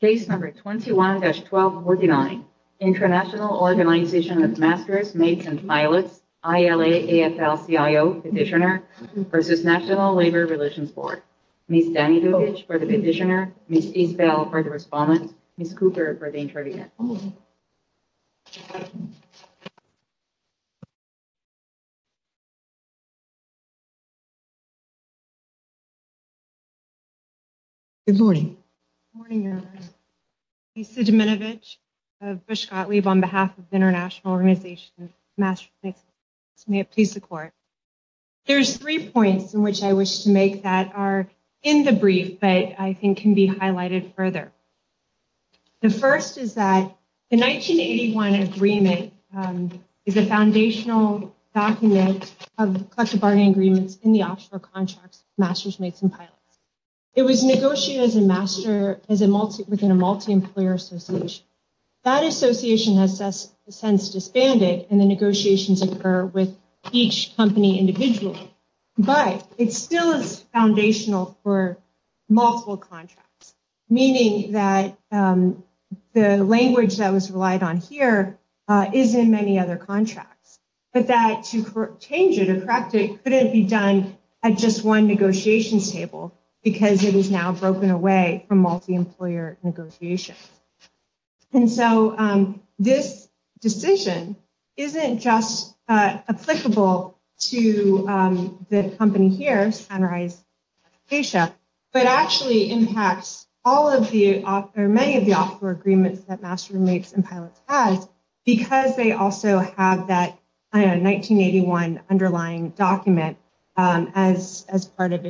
Case No. 21-1249 International Organization of Masters, Mates & Pilots ILA-AFL-CIO Petitioner v. National Labor Relations Board Ms. Dani Dukic for the petitioner, Ms. Isabel for the respondent, Ms. Cooper for the intervention Good morning. Good morning, Your Honor. Lisa Dominovich of Busch Gottlieb on behalf of the International Organization of Masters, Mates & Pilots. May it please the Court. There's three points in which I wish to make that are in the brief but I think can be highlighted further. The first is that the 1981 agreement is a foundational document of collective bargaining agreements in the offshore contracts of Masters, Mates & Pilots. It was negotiated as a master within a multi-employer association. That association has since disbanded and the negotiations occur with each company individually. But it still is foundational for multiple contracts, meaning that the language that was relied on here is in many other contracts. But that to change it or correct it couldn't be done at just one negotiations table because it is now broken away from multi-employer negotiations. And so this decision isn't just applicable to the company here, Sunrise Asia, but actually impacts many of the offshore agreements that Masters, Mates & Pilots has because they also have that 1981 underlying document as part of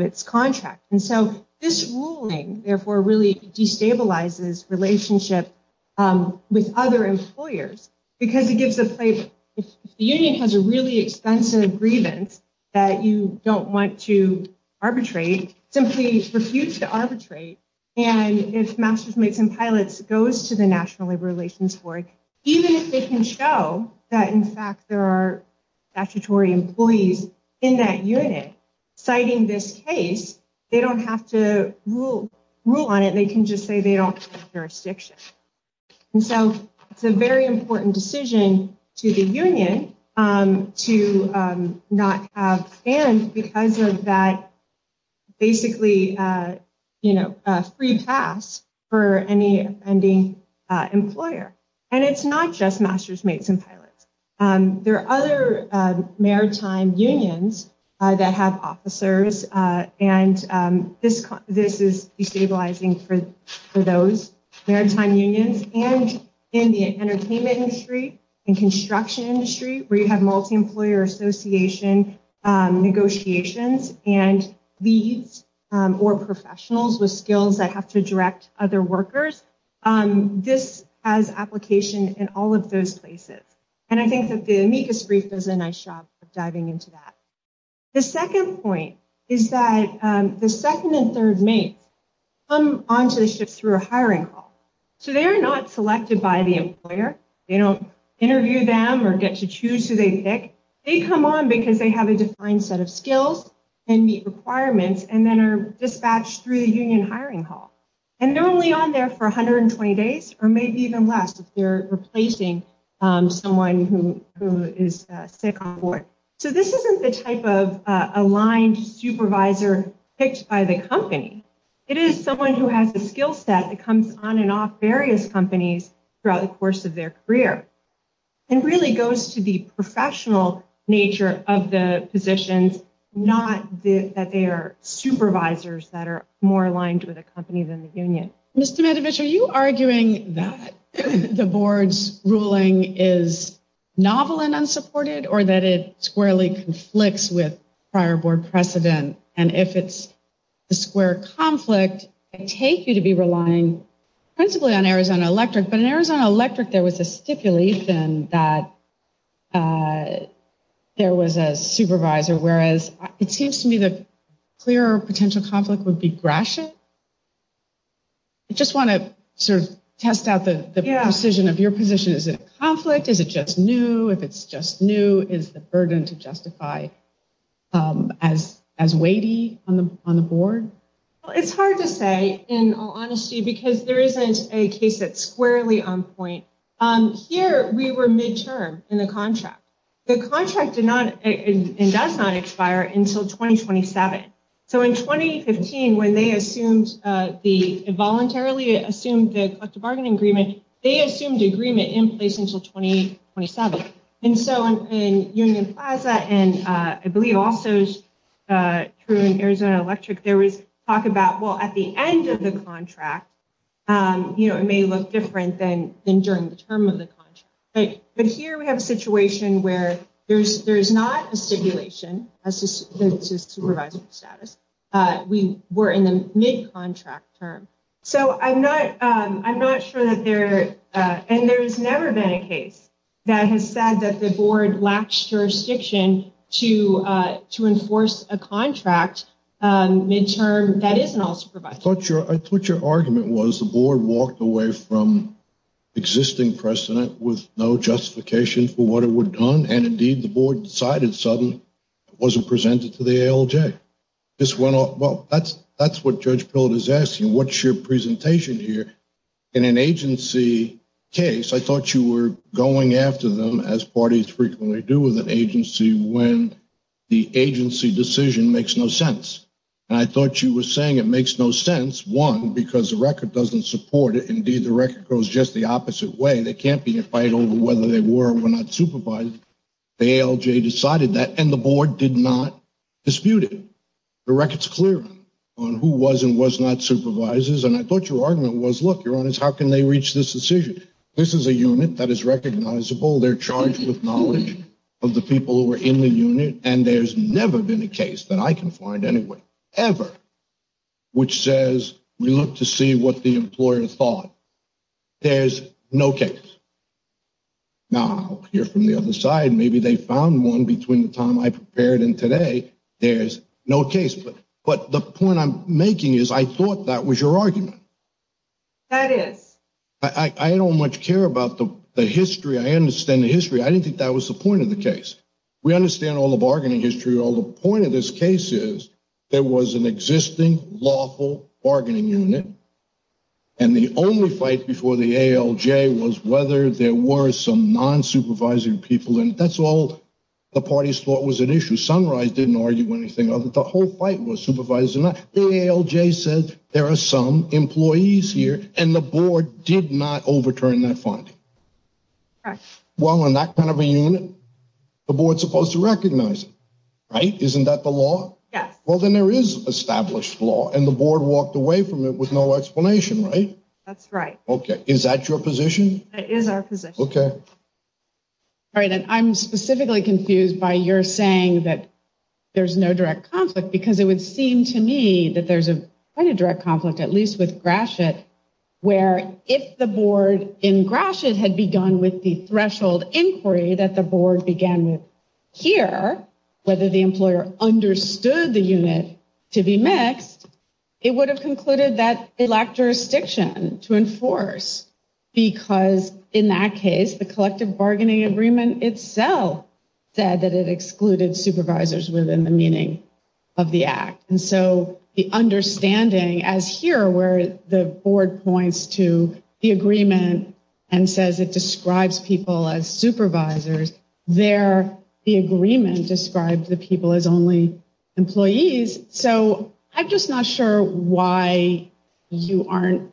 its contract. And so this ruling, therefore, really destabilizes relationships with other employers. Because if the union has a really expensive grievance that you don't want to arbitrate, simply refuse to arbitrate, and if Masters, Mates & Pilots goes to the National Labor Relations Board, even if they can show that, in fact, there are statutory employees in that unit citing this case, they don't have to rule on it. They can just say they don't have jurisdiction. And so it's a very important decision to the union to not have bans because of that basically free pass for any offending employer. And it's not just Masters, Mates & Pilots. There are other maritime unions that have officers, and this is destabilizing for those maritime unions. And in the entertainment industry and construction industry where you have multi-employer association negotiations and leads or professionals with skills that have to direct other workers, this has application in all of those places. And I think that the amicus brief does a nice job of diving into that. The second point is that the second and third mates come onto the ship through a hiring call. So they are not selected by the employer. They don't interview them or get to choose who they pick. They come on because they have a defined set of skills and meet requirements and then are dispatched through the union hiring hall. And they're only on there for 120 days or maybe even less if they're replacing someone who is sick on board. So this isn't the type of aligned supervisor picked by the company. It is someone who has the skill set that comes on and off various companies throughout the course of their career. It really goes to the professional nature of the positions, not that they are supervisors that are more aligned with a company than the union. Mr. Medovich, are you arguing that the board's ruling is novel and unsupported or that it squarely conflicts with prior board precedent? And if it's a square conflict, I take you to be relying principally on Arizona Electric. But in Arizona Electric, there was a stipulate that there was a supervisor. Whereas it seems to me the clearer potential conflict would be Gratiot. I just want to sort of test out the precision of your position. Is it a conflict? Is it just new? If it's just new, is the burden to justify as weighty on the board? It's hard to say, in all honesty, because there isn't a case that's squarely on point. Here we were midterm in the contract. The contract did not and does not expire until 2027. So in 2015, when they involuntarily assumed the collective bargaining agreement, they assumed agreement in place until 2027. And so in Union Plaza and I believe also in Arizona Electric, there was talk about, well, at the end of the contract, it may look different than during the term of the contract. But here we have a situation where there is not a stipulation as to supervisory status. We were in the mid-contract term. So I'm not sure that there – and there has never been a case that has said that the board lacks jurisdiction to enforce a contract midterm that isn't all supervisory. I thought your argument was the board walked away from existing precedent with no justification for what it would have done. And indeed, the board decided suddenly it wasn't presented to the ALJ. This went off – well, that's what Judge Pillard is asking. What's your presentation here? In an agency case, I thought you were going after them, as parties frequently do with an agency, when the agency decision makes no sense. And I thought you were saying it makes no sense, one, because the record doesn't support it. Indeed, the record goes just the opposite way. There can't be a fight over whether they were or were not supervised. The ALJ decided that, and the board did not dispute it. The record's clear on who was and was not supervisors. And I thought your argument was, look, Your Honors, how can they reach this decision? This is a unit that is recognizable. They're charged with knowledge of the people who were in the unit. And there's never been a case that I can find anywhere, ever, which says we look to see what the employer thought. There's no case. Now, I'll hear from the other side. Maybe they found one between the time I prepared and today. There's no case. But the point I'm making is I thought that was your argument. That is. I don't much care about the history. I understand the history. I didn't think that was the point of the case. We understand all the bargaining history. The point of this case is there was an existing lawful bargaining unit. And the only fight before the ALJ was whether there were some non-supervising people in it. That's all the parties thought was an issue. Sunrise didn't argue anything. The whole fight was supervisors or not. The ALJ said there are some employees here. And the board did not overturn that finding. Correct. Well, in that kind of a unit, the board is supposed to recognize it, right? Isn't that the law? Yes. Well, then there is established law. And the board walked away from it with no explanation, right? That's right. Okay. Is that your position? That is our position. Okay. All right. And I'm specifically confused by your saying that there's no direct conflict. Because it would seem to me that there's quite a direct conflict, at least with Gratiot, where if the board in Gratiot had begun with the threshold inquiry that the board began with here, whether the employer understood the unit to be mixed, it would have concluded that it lacked jurisdiction to enforce. Because in that case, the collective bargaining agreement itself said that it excluded supervisors within the meaning of the act. And so the understanding as here where the board points to the agreement and says it describes people as supervisors, there the agreement described the people as only employees. So I'm just not sure why you aren't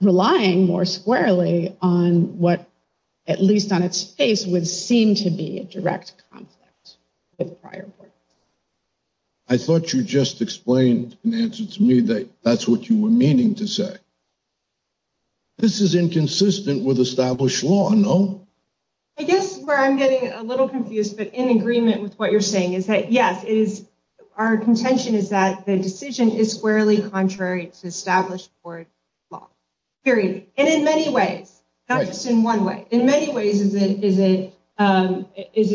relying more squarely on what, at least on its face, would seem to be a direct conflict with the prior board. I thought you just explained in answer to me that that's what you were meaning to say. This is inconsistent with established law, no? I guess where I'm getting a little confused, but in agreement with what you're saying is that, yes, our contention is that the decision is squarely contrary to established board law, period. And in many ways, not just in one way. In many ways is it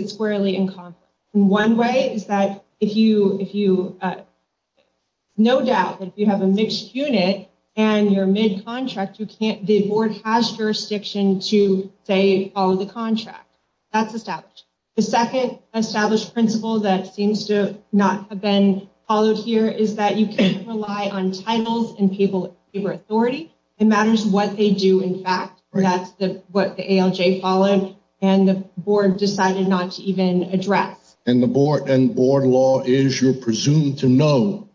squarely in conflict. One way is that no doubt if you have a mixed unit and you're mid-contract, the board has jurisdiction to, say, follow the contract. That's established. The second established principle that seems to not have been followed here is that you can't rely on titles and paper authority. It matters what they do in fact. That's what the ALJ followed and the board decided not to even address. And board law is you're presumed to know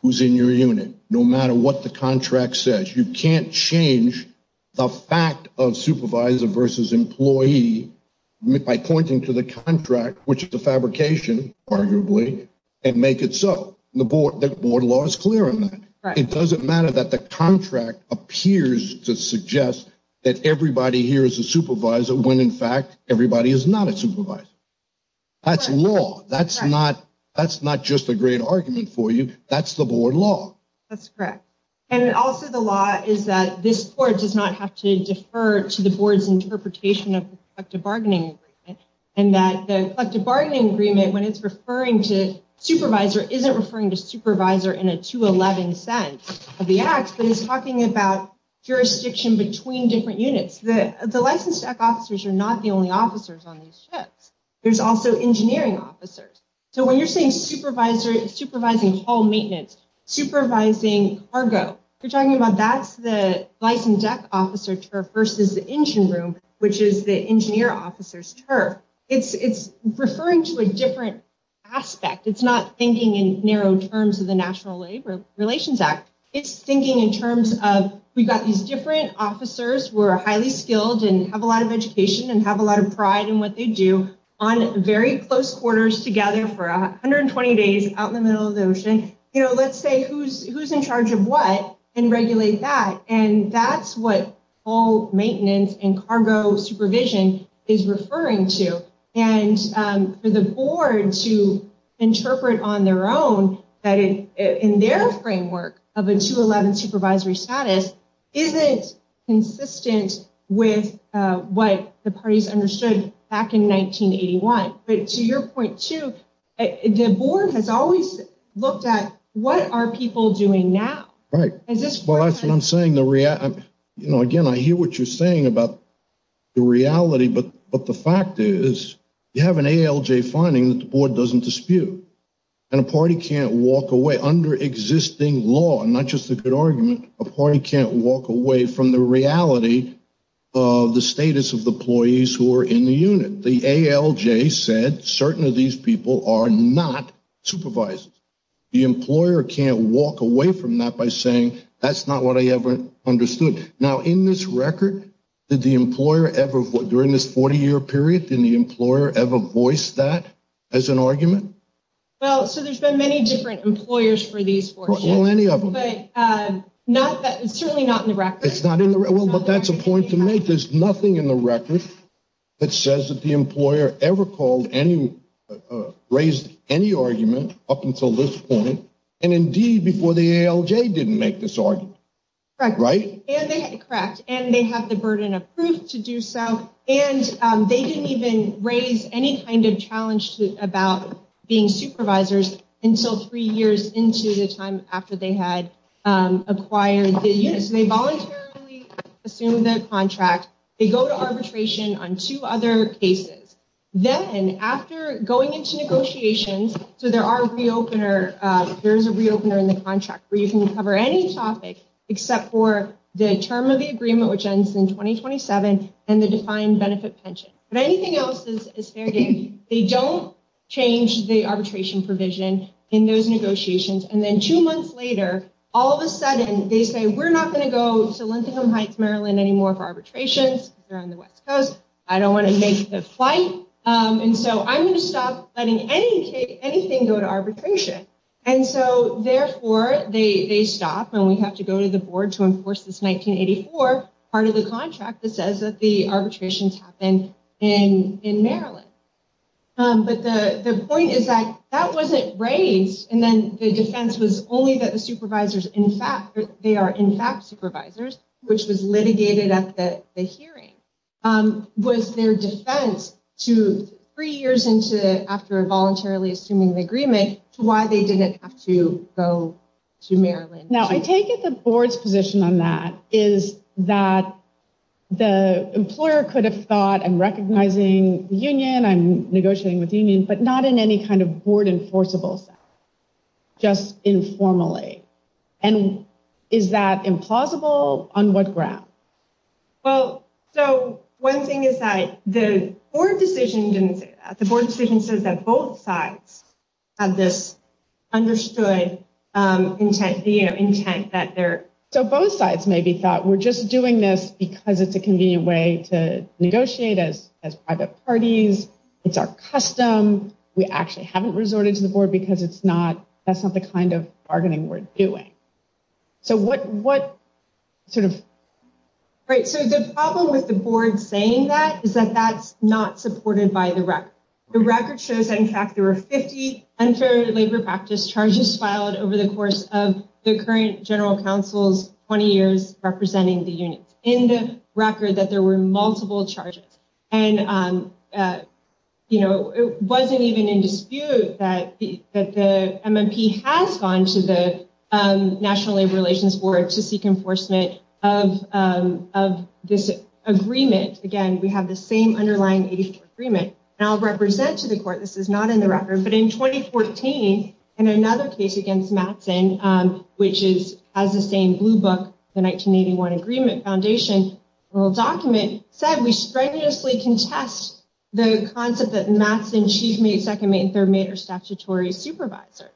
who's in your unit, no matter what the contract says. You can't change the fact of supervisor versus employee by pointing to the contract, which is the fabrication, arguably, and make it so. The board law is clear on that. It doesn't matter that the contract appears to suggest that everybody here is a supervisor when in fact everybody is not a supervisor. That's law. That's not just a great argument for you. That's the board law. That's correct. And also the law is that this court does not have to defer to the board's interpretation of the collective bargaining agreement and that the collective bargaining agreement, when it's referring to supervisor, isn't referring to supervisor in a 211 sense of the act, but it's talking about jurisdiction between different units. The licensed tech officers are not the only officers on these ships. There's also engineering officers. So when you're saying supervising haul maintenance, supervising cargo, you're talking about that's the licensed tech officer versus the engine room, which is the engineer officer's turf. It's referring to a different aspect. It's not thinking in narrow terms of the National Labor Relations Act. It's thinking in terms of we've got these different officers who are highly skilled and have a lot of education and have a lot of pride in what they do on very close quarters together for 120 days out in the middle of the ocean. Let's say who's in charge of what and regulate that. And that's what haul maintenance and cargo supervision is referring to. And for the board to interpret on their own that in their framework of a 211 supervisory status, isn't consistent with what the parties understood back in 1981. But to your point, too, the board has always looked at what are people doing now. Right. Well, that's what I'm saying. You know, again, I hear what you're saying about the reality, but the fact is you have an ALJ finding that the board doesn't dispute and a party can't walk away. Under existing law, not just a good argument, a party can't walk away from the reality of the status of the employees who are in the unit. The ALJ said certain of these people are not supervisors. The employer can't walk away from that by saying that's not what I ever understood. Now, in this record, did the employer ever, during this 40-year period, did the employer ever voice that as an argument? Well, so there's been many different employers for these four years. Well, any of them. But certainly not in the record. Well, but that's a point to make. There's nothing in the record that says that the employer ever raised any argument up until this point. And, indeed, before the ALJ didn't make this argument. Correct. Right? Correct. And they have the burden of proof to do so. And they didn't even raise any kind of challenge about being supervisors until three years into the time after they had acquired the unit. So they voluntarily assumed the contract. They go to arbitration on two other cases. Then, after going into negotiations, so there is a re-opener in the contract where you can cover any topic except for the term of the agreement, which ends in 2027, and the defined benefit pension. But anything else is fair game. They don't change the arbitration provision in those negotiations. And then two months later, all of a sudden, they say, we're not going to go to Lintingham Heights, Maryland, anymore for arbitrations. They're on the West Coast. I don't want to make the flight. And so I'm going to stop letting anything go to arbitration. And so, therefore, they stop, and we have to go to the board to enforce this 1984 part of the contract that says that the arbitrations happen in Maryland. But the point is that that wasn't raised, and then the defense was only that the supervisors, in fact, they are, in fact, supervisors, which was litigated at the hearing, was their defense to three years into, after voluntarily assuming the agreement, to why they didn't have to go to Maryland. Now, I take it the board's position on that is that the employer could have thought, I'm recognizing the union, I'm negotiating with the union, but not in any kind of board enforceable sense, just informally. And is that implausible? On what ground? Well, so one thing is that the board decision didn't say that. The board decision says that both sides have this understood intent that they're. So both sides maybe thought we're just doing this because it's a convenient way to negotiate as private parties. It's our custom. We actually haven't resorted to the board because it's not. That's not the kind of bargaining we're doing. So what sort of. Right. So the problem with the board saying that is that that's not supported by the record. The record shows, in fact, there are 50 unfair labor practice charges filed over the course of the current general counsel's 20 years, representing the units in the record that there were multiple charges. And, you know, it wasn't even in dispute that the MMP has gone to the National Labor Relations Board to seek enforcement of of this agreement. Again, we have the same underlying agreement now represent to the court. This is not in the record, but in 2014 and another case against Matson, which is as the same blue book, the 1981 Agreement Foundation. Well, document said we strenuously contest the concept that Matson, chief mate, second mate and third mate are statutory supervisors.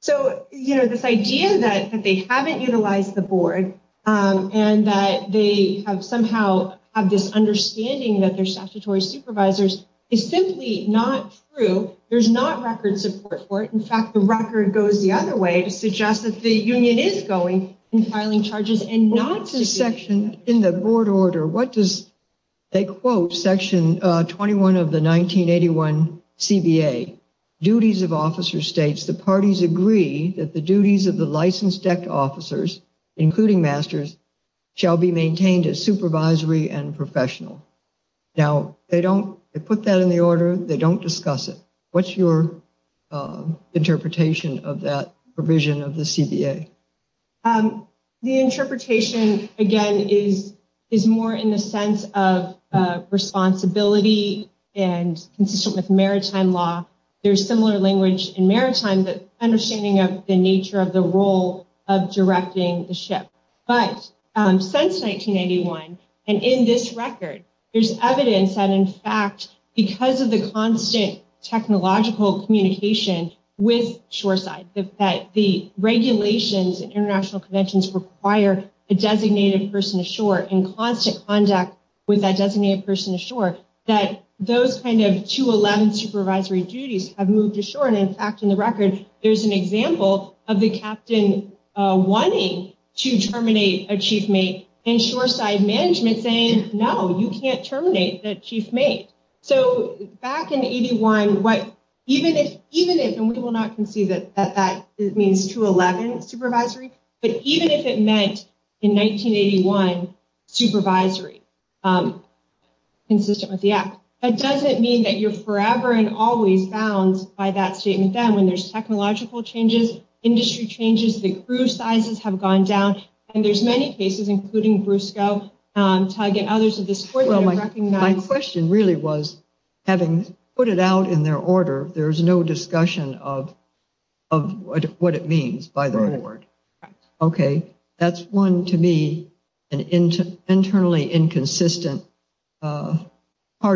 So, you know, this idea that they haven't utilized the board and that they have somehow have this understanding that their statutory supervisors is simply not true. There's not record support for it. In fact, the record goes the other way to suggest that the union is going in filing charges and not to section in the board. Order what does they quote Section 21 of the 1981 CBA duties of officer states the parties agree that the duties of the licensed officers, including masters, shall be maintained as supervisory and professional. Now, they don't put that in the order. They don't discuss it. What's your interpretation of that provision of the CBA? The interpretation, again, is is more in the sense of responsibility and consistent with maritime law. There's similar language in maritime understanding of the nature of the role of directing the ship. But since 1981 and in this record, there's evidence that, in fact, because of the constant technological communication with shoreside, that the regulations and international conventions require a designated person ashore in constant contact with that designated person ashore, that those kind of 211 supervisory duties have moved ashore. And in fact, in the record, there's an example of the captain wanting to terminate a chief mate and shoreside management saying, no, you can't terminate that chief mate. So back in 81, what even if even if and we will not concede that that means 211 supervisory, but even if it meant in 1981 supervisory consistent with the act, it doesn't mean that you're forever and always bound by that statement. Then when there's technological changes, industry changes, the crew sizes have gone down. And there's many cases, including Briscoe, Tyga and others of this. Well, my question really was having put it out in their order. There is no discussion of of what it means by the word. OK, that's one to be an internally inconsistent part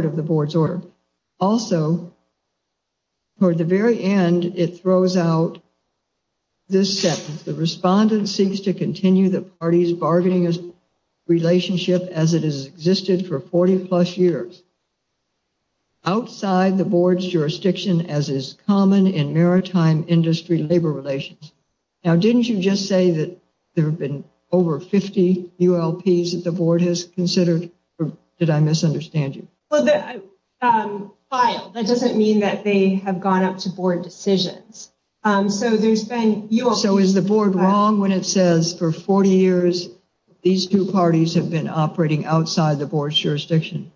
of the board's order. Also. For the very end, it throws out. This is the respondent seeks to continue the party's bargaining relationship as it has existed for 40 plus years. Outside the board's jurisdiction, as is common in maritime industry, labor relations. Now, didn't you just say that there have been over 50 U.S. that the board has considered? Did I misunderstand you? Well, that doesn't mean that they have gone up to board decisions. So there's been. So is the board wrong when it says for 40 years, these two parties have been operating outside the board's jurisdiction?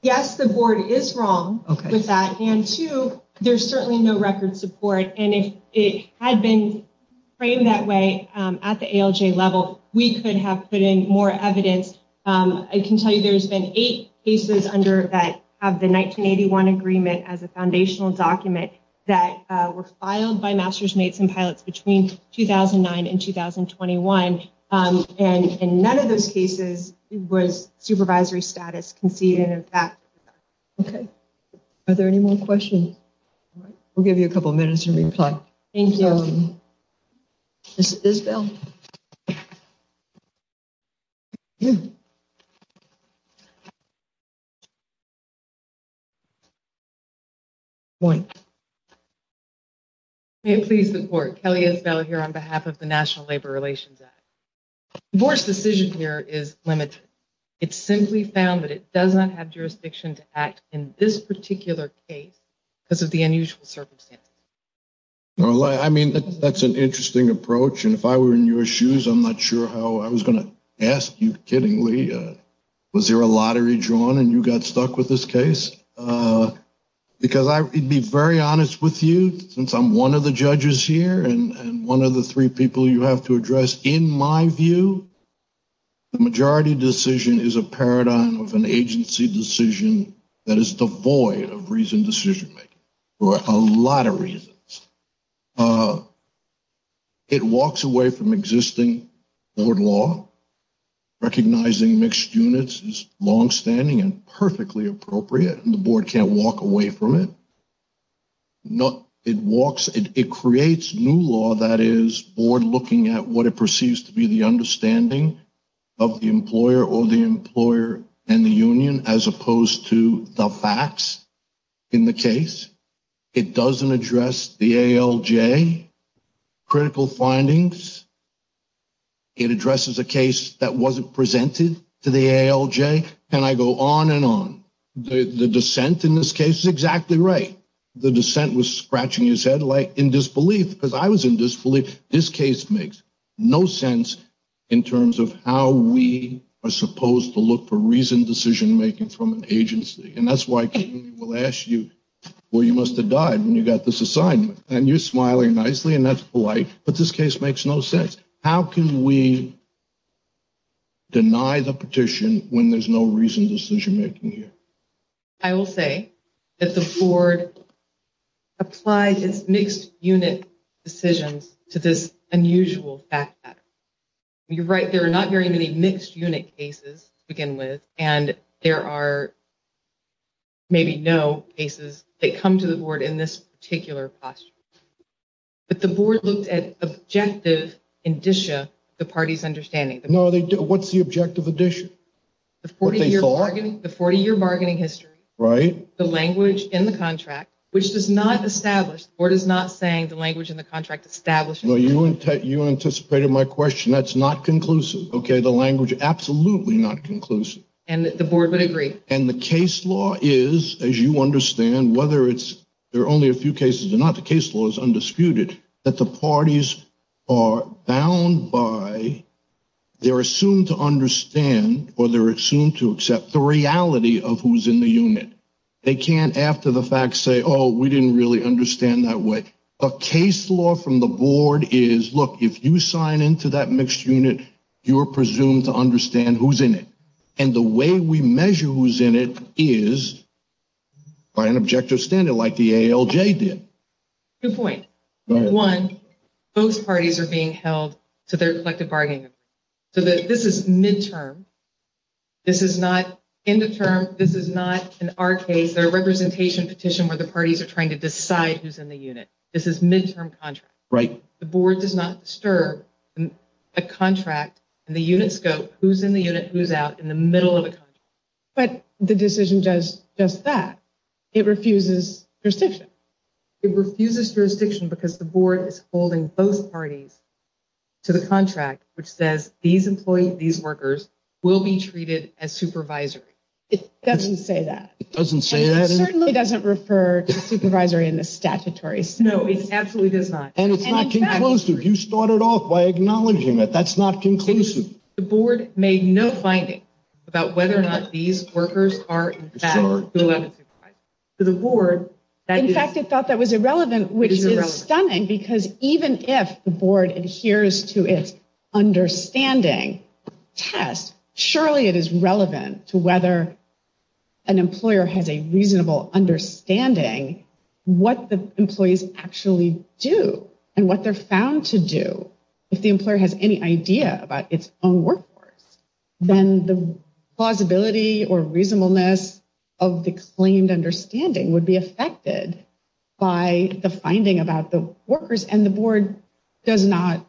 Yes, the board is wrong with that. And two, there's certainly no record support. And if it had been framed that way at the ALJ level, we could have put in more evidence. I can tell you there's been eight cases under that have the 1981 agreement as a foundational document that were filed by masters, mates and pilots between 2009 and 2021. And in none of those cases was supervisory status conceded. OK, are there any more questions? We'll give you a couple of minutes to reply. Thank you. This is Bill. One. Please support Kelly as well here on behalf of the National Labor Relations Act. The board's decision here is limited. It's simply found that it doesn't have jurisdiction to act in this particular case because of the unusual circumstances. I mean, that's an interesting approach. And if I were in your shoes, I'm not sure how I was going to ask you kiddingly. Was there a lottery drawn and you got stuck with this case? Because I'd be very honest with you, since I'm one of the judges here and one of the three people you have to address, in my view. The majority decision is a paradigm of an agency decision that is devoid of reason decision for a lot of reasons. It walks away from existing board law. Recognizing mixed units is longstanding and perfectly appropriate. And the board can't walk away from it. Not it walks. It creates new law that is board looking at what it perceives to be the understanding of the employer or the employer and the union, as opposed to the facts in the case. It doesn't address the ALJ critical findings. It addresses a case that wasn't presented to the ALJ. And I go on and on. The dissent in this case is exactly right. The dissent was scratching his head like in disbelief because I was in disbelief. This case makes no sense in terms of how we are supposed to look for reasoned decision making from an agency. And that's why we'll ask you where you must have died when you got this assignment. And you're smiling nicely and that's polite. But this case makes no sense. How can we deny the petition when there's no reason decision making here? I will say that the board applies its mixed unit decisions to this unusual fact. You're right. There are not very many mixed unit cases begin with, and there are. Maybe no cases that come to the board in this particular class. But the board looked at objective indicia, the party's understanding. No, they do. What's the objective addition? The 40 year bargaining, the 40 year bargaining history. Right. The language in the contract, which does not establish or does not saying the language in the contract established. Well, you and you anticipated my question. That's not conclusive. OK, the language. Absolutely not conclusive. And the board would agree. And the case law is, as you understand, whether it's there are only a few cases or not. The case law is undisputed that the parties are bound by. They're assumed to understand or they're assumed to accept the reality of who's in the unit. They can't after the fact say, oh, we didn't really understand that way. A case law from the board is, look, if you sign into that mixed unit, you are presumed to understand who's in it. And the way we measure who's in it is by an objective standard like the ALJ did. Good point. One, both parties are being held to their collective bargaining. So this is midterm. This is not in the term. This is not in our case, their representation petition where the parties are trying to decide who's in the unit. This is midterm contract. Right. The board does not disturb a contract. And the units go who's in the unit, who's out in the middle of it. But the decision does just that. It refuses jurisdiction. It refuses jurisdiction because the board is holding both parties to the contract, which says these employees, these workers will be treated as supervisory. It doesn't say that. It doesn't say that. It certainly doesn't refer to supervisory in the statutory sense. No, it absolutely does not. And it's not conclusive. You started off by acknowledging that that's not conclusive. The board made no finding about whether or not these workers are in fact allowed to supervise. In fact, it thought that was irrelevant, which is stunning because even if the board adheres to its understanding test, surely it is relevant to whether an employer has a reasonable understanding what the employees actually do and what they're found to do. If the employer has any idea about its own workforce, then the plausibility or reasonableness of the claimed understanding would be affected by the finding about the workers. And the board does not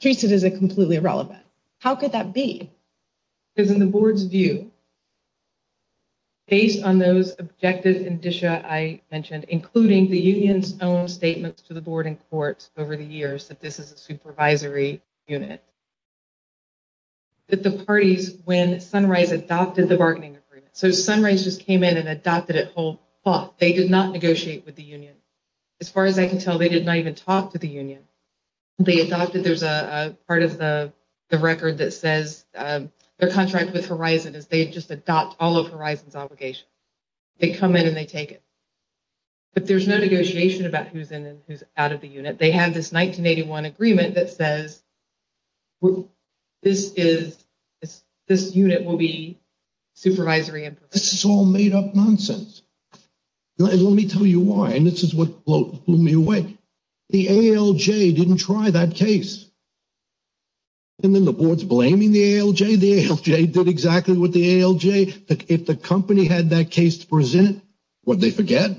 treat it as a completely irrelevant. How could that be? Is in the board's view. Based on those objective indicia I mentioned, including the union's own statements to the board in court over the years, that this is a supervisory unit. But the parties, when Sunrise adopted the bargaining agreement, so Sunrise just came in and adopted it. They did not negotiate with the union. As far as I can tell, they did not even talk to the union. They adopted there's a part of the record that says their contract with Horizon is they just adopt all of Horizon's obligations. They come in and they take it. But there's no negotiation about who's in and who's out of the unit. They have this 1981 agreement that says this unit will be supervisory. This is all made up nonsense. Let me tell you why. And this is what blew me away. The ALJ didn't try that case. And then the board's blaming the ALJ. The ALJ did exactly what the ALJ. If the company had that case to present, would they forget?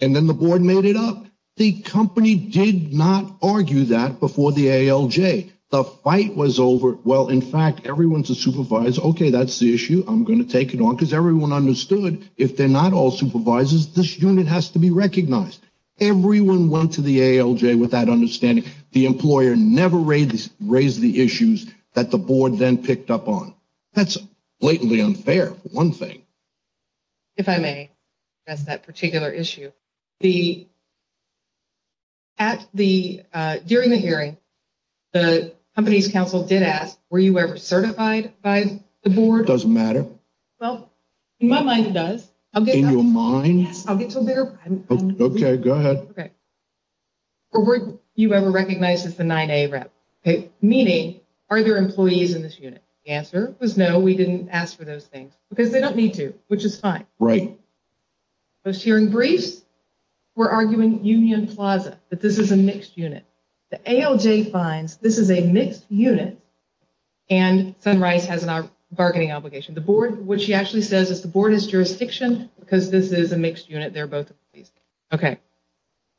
And then the board made it up. The company did not argue that before the ALJ. The fight was over. Well, in fact, everyone's a supervisor. OK, that's the issue. I'm going to take it on because everyone understood if they're not all supervisors, this unit has to be recognized. Everyone went to the ALJ with that understanding. The employer never raised the issues that the board then picked up on. That's blatantly unfair. One thing. If I may, that's that particular issue. The. At the during the hearing, the company's counsel did ask, were you ever certified by the board? Doesn't matter. Well, in my mind, it does. I'll get in your mind. I'll get to there. OK, go ahead. Or were you ever recognized as the nine day rep meeting? Are there employees in this unit? The answer was no. We didn't ask for those things because they don't need to, which is fine. Right. Those hearing briefs were arguing Union Plaza, that this is a mixed unit. The ALJ finds this is a mixed unit. And Sunrise has a bargaining obligation. The board, which she actually says is the board is jurisdiction because this is a mixed unit. They're both. OK,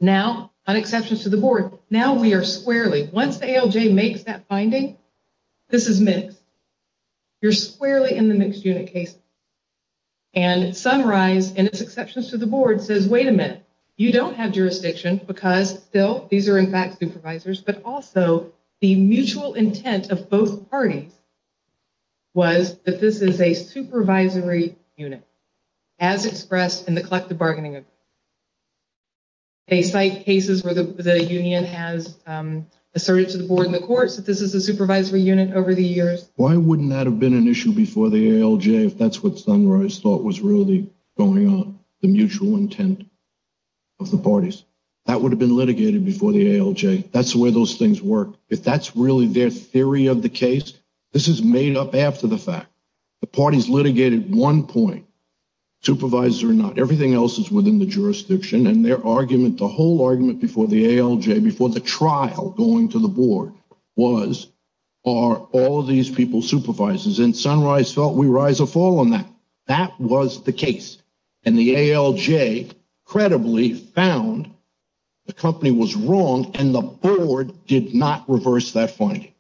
now an exception to the board. Now we are squarely once the ALJ makes that finding. This is mixed. You're squarely in the mixed unit case. And Sunrise and its exceptions to the board says, wait a minute, you don't have jurisdiction because still these are, in fact, supervisors. But also the mutual intent of both parties. Was that this is a supervisory unit as expressed in the collective bargaining? They cite cases where the union has asserted to the board and the courts that this is a supervisory unit over the years. Why wouldn't that have been an issue before the ALJ, if that's what Sunrise thought was really going on? The mutual intent of the parties that would have been litigated before the ALJ. That's where those things work. If that's really their theory of the case, this is made up after the fact. The parties litigated one point, supervisor or not, everything else is within the jurisdiction. And their argument, the whole argument before the ALJ, before the trial going to the board was, are all of these people supervisors? And Sunrise felt we rise or fall on that. That was the case. And the ALJ credibly found the company was wrong and the board did not reverse that finding.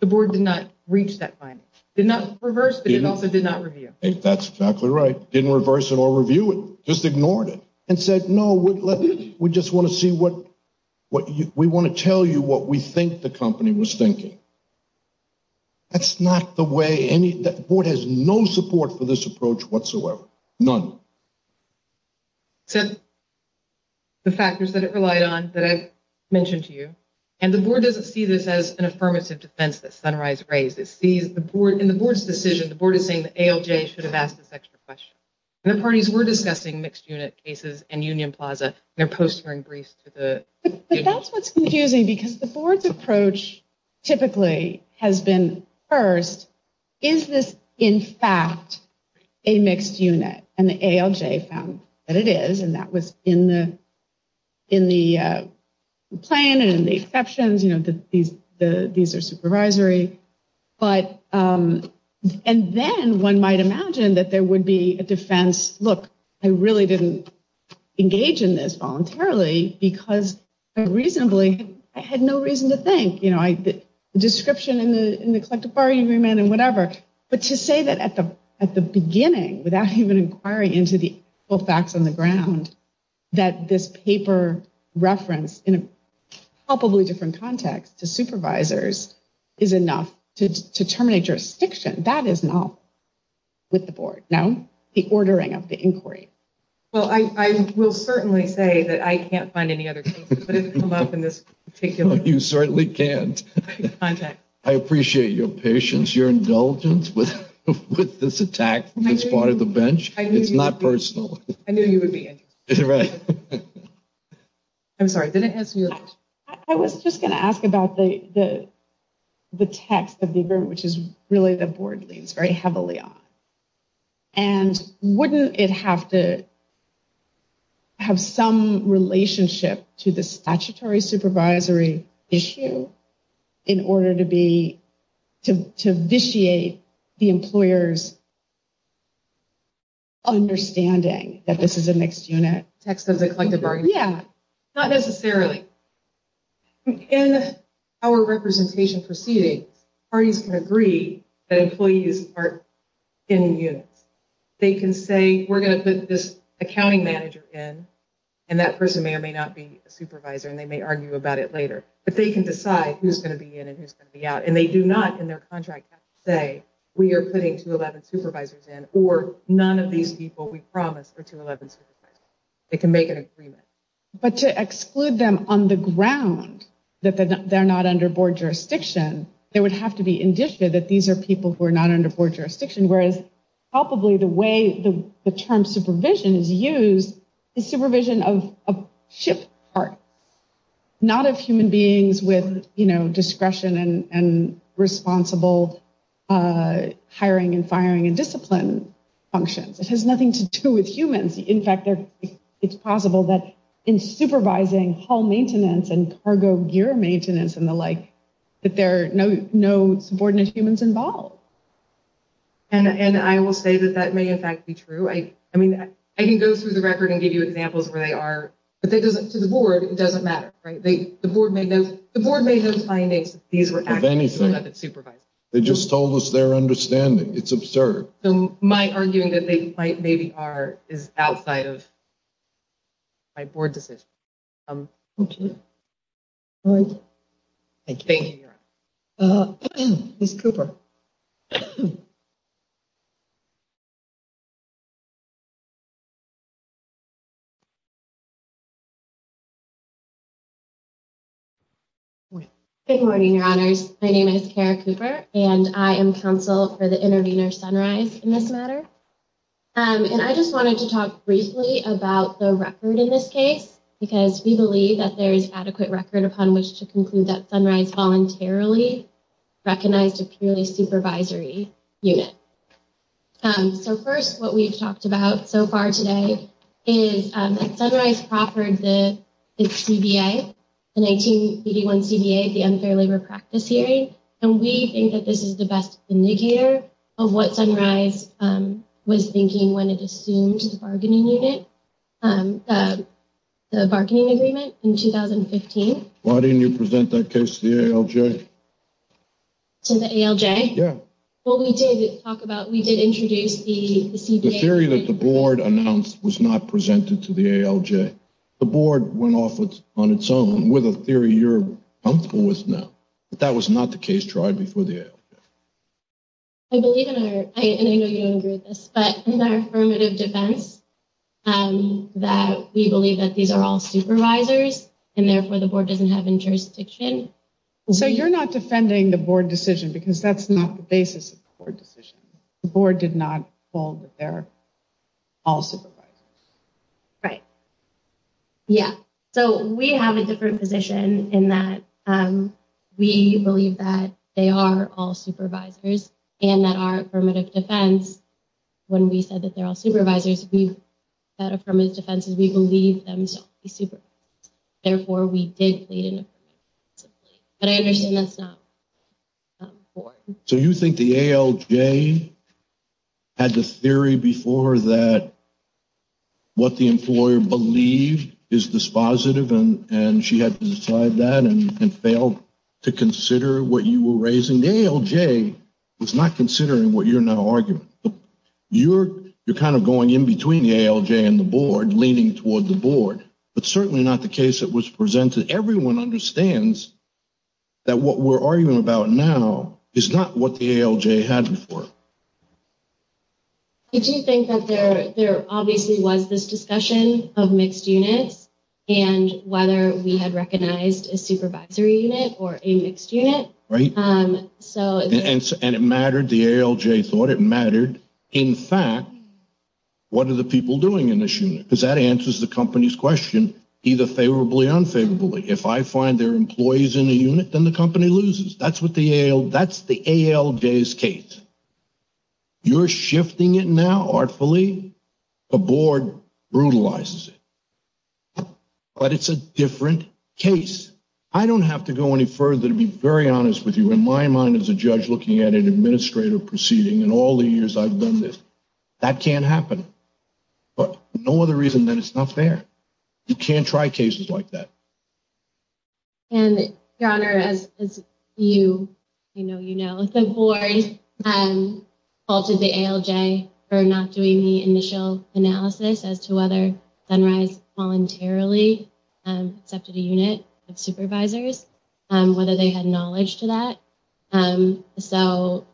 The board did not reach that finding. Did not reverse, but it also did not review. That's exactly right. Didn't reverse it or review it. Just ignored it and said, no, we just want to see what we want to tell you, what we think the company was thinking. That's not the way any board has no support for this approach whatsoever. None. So the factors that it relied on that I mentioned to you, and the board doesn't see this as an affirmative defense that Sunrise raised. It sees the board in the board's decision. The board is saying the ALJ should have asked this extra question. And the parties were discussing mixed unit cases and Union Plaza. But that's what's confusing, because the board's approach typically has been, first, is this in fact a mixed unit? And the ALJ found that it is. And that was in the plan and the exceptions. These are supervisory. But and then one might imagine that there would be a defense. Look, I really didn't engage in this voluntarily because reasonably I had no reason to think, you know, the description in the collective bargaining agreement and whatever. But to say that at the at the beginning, without even inquiring into the facts on the ground, that this paper reference in a probably different context to supervisors is enough to terminate jurisdiction. That is not with the board. Now, the ordering of the inquiry. Well, I will certainly say that I can't find any other. In this particular, you certainly can't. I appreciate your patience, your indulgence with this attack. It's part of the bench. It's not personal. I knew you would be right. I'm sorry. I was just going to ask about the the text of the agreement, which is really the board leads very heavily on. And wouldn't it have to. Have some relationship to the statutory supervisory issue in order to be to to vitiate the employers. Understanding that this is a next unit text of the collective bargaining. Yeah, not necessarily. In our representation proceedings, parties can agree that employees are in units. They can say we're going to put this accounting manager in and that person may or may not be a supervisor and they may argue about it later. But they can decide who's going to be in and who's going to be out. And they do not, in their contract, say we are putting to eleven supervisors in or none of these people. They can make an agreement, but to exclude them on the ground that they're not under board jurisdiction, they would have to be indicted that these are people who are not under board jurisdiction, whereas probably the way the term supervision is used is supervision of a ship part, not of human beings with discretion and responsible hiring and firing and discipline functions. It has nothing to do with humans. In fact, it's possible that in supervising hull maintenance and cargo gear maintenance and the like, that there are no no subordinate humans involved. And I will say that that may in fact be true. I mean, I can go through the record and give you examples where they are, but that doesn't to the board. It doesn't matter. Right. The board may know the board may have findings. They just told us their understanding. It's absurd. So my arguing that they might maybe are is outside of. My board, this is. Thank you. Thank you, Miss Cooper. Good morning, your honors. My name is Kara Cooper and I am counsel for the intervener sunrise in this matter. And I just wanted to talk briefly about the record in this case, because we believe that there is adequate record upon which to conclude that sunrise voluntarily recognized a purely supervisory unit. So first, what we've talked about so far today is sunrise offered the CBA, the 1981 CBA, the unfair labor practice hearing. And we think that this is the best indicator of what sunrise was thinking when it assumed the bargaining unit, the bargaining agreement in 2015. Why didn't you present that case to the ALJ? To the ALJ? Yeah. Well, we did talk about we did introduce the CBA. The theory that the board announced was not presented to the ALJ. The board went off on its own with a theory you're comfortable with now. That was not the case tried before the ALJ. I believe in our, and I know you don't agree with this, but in our affirmative defense that we believe that these are all supervisors and therefore the board doesn't have jurisdiction. So you're not defending the board decision because that's not the basis of the board decision. The board did not hold that they're all supervisors. Right. Yeah. So we have a different position in that we believe that they are all supervisors and that our affirmative defense, when we said that they're all supervisors, we said affirmative defense is we believe them to be supervisors. Therefore, we did plead an affirmative defense. But I understand that's not the board. So you think the ALJ had the theory before that what the employer believed is dispositive and she had to decide that and failed to consider what you were raising? The ALJ was not considering what you're now arguing. You're kind of going in between the ALJ and the board, leaning toward the board, but certainly not the case that was presented. Everyone understands that what we're arguing about now is not what the ALJ had before. Did you think that there obviously was this discussion of mixed units and whether we had recognized a supervisory unit or a mixed unit? Right. And it mattered. The ALJ thought it mattered. In fact, what are the people doing in this unit? Because that answers the company's question, either favorably or unfavorably. If I find there are employees in the unit, then the company loses. That's the ALJ's case. You're shifting it now artfully. The board brutalizes it. But it's a different case. I don't have to go any further to be very honest with you. In my mind as a judge looking at an administrative proceeding, in all the years I've done this, that can't happen. But no other reason than it's not fair. You can't try cases like that. And, Your Honor, as you know, the board faulted the ALJ for not doing the initial analysis as to whether Sunrise voluntarily accepted a unit of supervisors, whether they had knowledge to that. So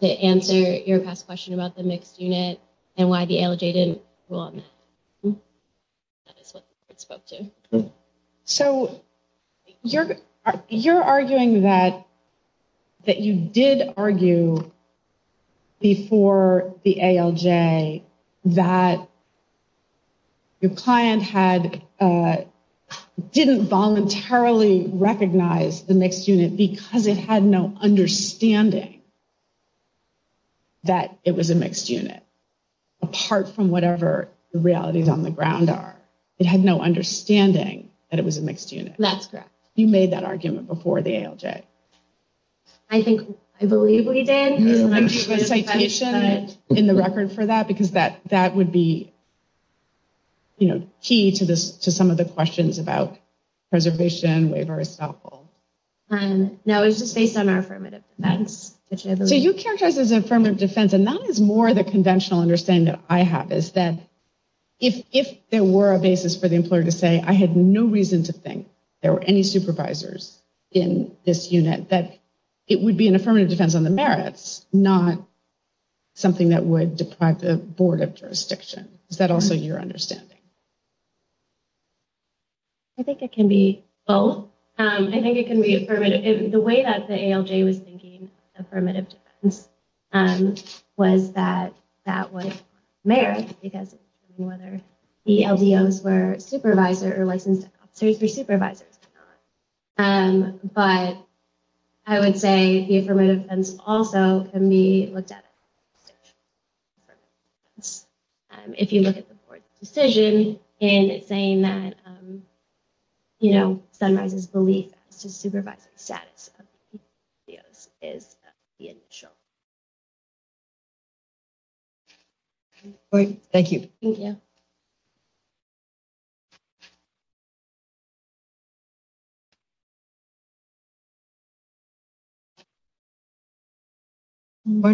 to answer your past question about the mixed unit and why the ALJ didn't rule on that, that is what the board spoke to. So you're arguing that you did argue before the ALJ that your client didn't voluntarily recognize the mixed unit because it had no understanding that it was a mixed unit, apart from whatever the realities on the ground are. It had no understanding that it was a mixed unit. That's correct. You made that argument before the ALJ. I believe we did. Do you have a citation in the record for that? Because that would be key to some of the questions about preservation, waiver, estoppel. No, it was just based on our affirmative defense. So you characterized it as affirmative defense, and that is more the conventional understanding that I have, is that if there were a basis for the employer to say, I had no reason to think there were any supervisors in this unit, that it would be an affirmative defense on the merits, not something that would deprive the board of jurisdiction. Is that also your understanding? I think it can be both. I think it can be affirmative. The way that the ALJ was thinking affirmative defense was that that would merit, because whether the LDOs were supervisor or licensed officers or supervisors or not. But I would say the affirmative defense also can be looked at as affirmative defense. If you look at the board's decision in saying that Sunrise's belief as to supervisor status of LDOs is the initial. Thank you. Why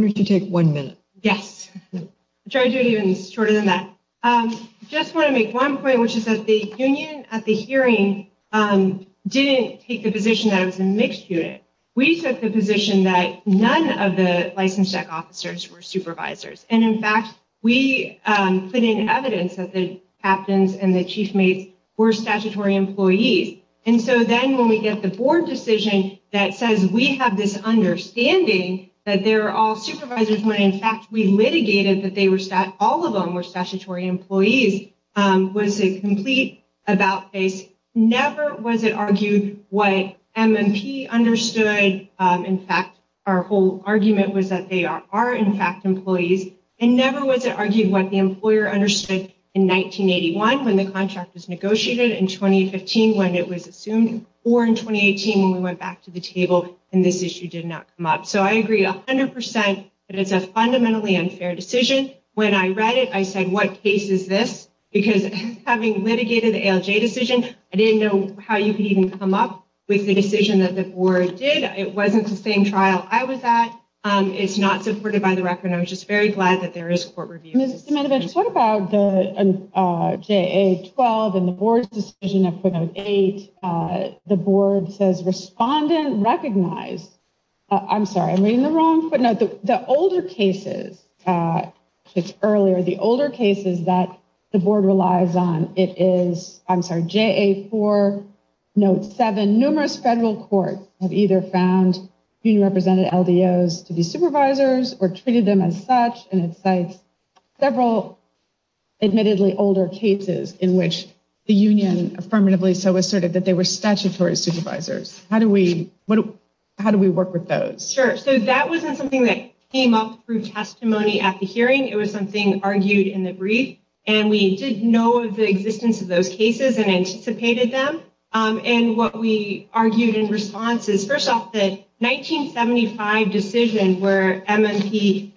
don't you take one minute? Yes. I'll try to do it even shorter than that. I just want to make one point, which is that the union at the hearing didn't take the position that it was a mixed unit. We took the position that none of the licensed tech officers were supervisors. And, in fact, we put in evidence that the captains and the chief mates were statutory employees. And so then when we get the board decision that says we have this understanding that they're all supervisors, when, in fact, we litigated that all of them were statutory employees, was a complete about-face. Never was it argued what MMP understood. In fact, our whole argument was that they are, in fact, employees. And never was it argued what the employer understood in 1981 when the contract was negotiated, in 2015 when it was assumed, or in 2018 when we went back to the table and this issue did not come up. So I agree 100 percent that it's a fundamentally unfair decision. When I read it, I said, what case is this? Because having litigated the ALJ decision, I didn't know how you could even come up with the decision that the board did. It wasn't the same trial I was at. It's not supported by the record. I was just very glad that there is court review. Ms. Ziminovich, what about the JA-12 and the board's decision of footnote 8? The board says respondent recognized. I'm sorry, I'm reading the wrong footnote. The older cases, it's earlier. The older cases that the board relies on, it is, I'm sorry, JA-4, note 7. Numerous federal courts have either found union-represented LDOs to be supervisors or treated them as such, and it cites several admittedly older cases in which the union affirmatively so asserted that they were statutory supervisors. How do we work with those? Sure. So that wasn't something that came up through testimony at the hearing. It was something argued in the brief, and we did know of the existence of those cases and anticipated them. And what we argued in response is, first off, the 1975 decision where MMP,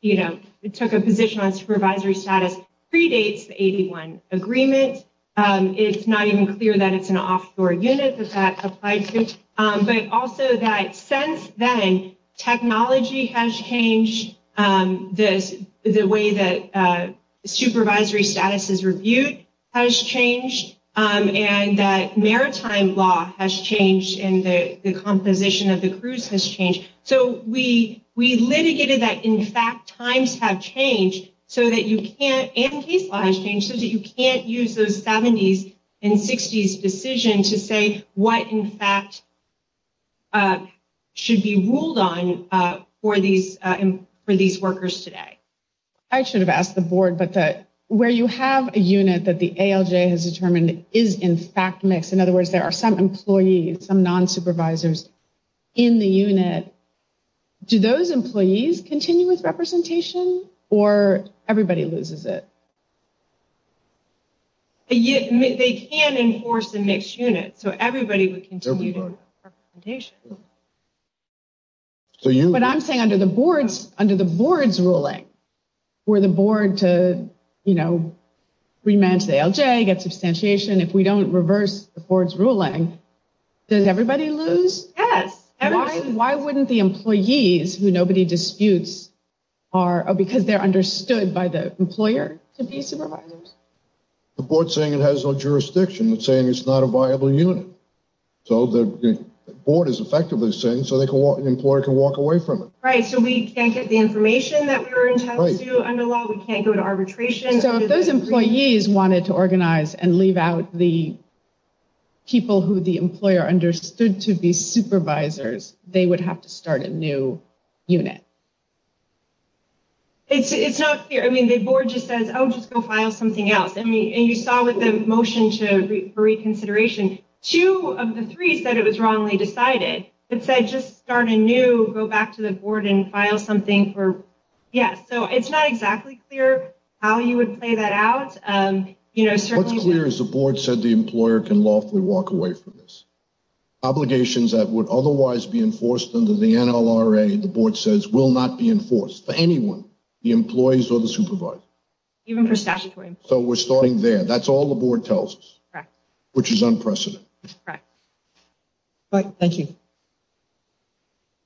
you know, took a position on supervisory status predates the 81 agreement. It's not even clear that it's an offshore unit that that applied to. But also that since then, technology has changed, the way that supervisory status is reviewed has changed, and that maritime law has changed and the composition of the cruise has changed. So we litigated that, in fact, times have changed so that you can't, and case law has changed, should be ruled on for these workers today. I should have asked the board, but where you have a unit that the ALJ has determined is, in fact, mixed, in other words, there are some employees, some non-supervisors in the unit, do those employees continue with representation or everybody loses it? They can enforce a mixed unit, so everybody would continue to have representation. But I'm saying under the board's ruling, for the board to, you know, rematch the ALJ, get substantiation, if we don't reverse the board's ruling, does everybody lose? Yes. Why wouldn't the employees, who nobody disputes, because they're understood by the employer, to be supervisors? The board's saying it has no jurisdiction, it's saying it's not a viable unit. So the board is effectively saying, so the employer can walk away from it. Right, so we can't get the information that we were entitled to under law, we can't go to arbitration. So if those employees wanted to organize and leave out the people who the employer understood to be supervisors, they would have to start a new unit. It's not clear. I mean, the board just says, oh, just go file something else. And you saw with the motion for reconsideration, two of the three said it was wrongly decided. It said just start anew, go back to the board and file something for, yes. So it's not exactly clear how you would play that out. What's clear is the board said the employer can lawfully walk away from this. Obligations that would otherwise be enforced under the NLRA, the board says, will not be enforced for anyone, the employees or the supervisor. Even for statutory employees. So we're starting there. That's all the board tells us, which is unprecedented. Right. Thank you.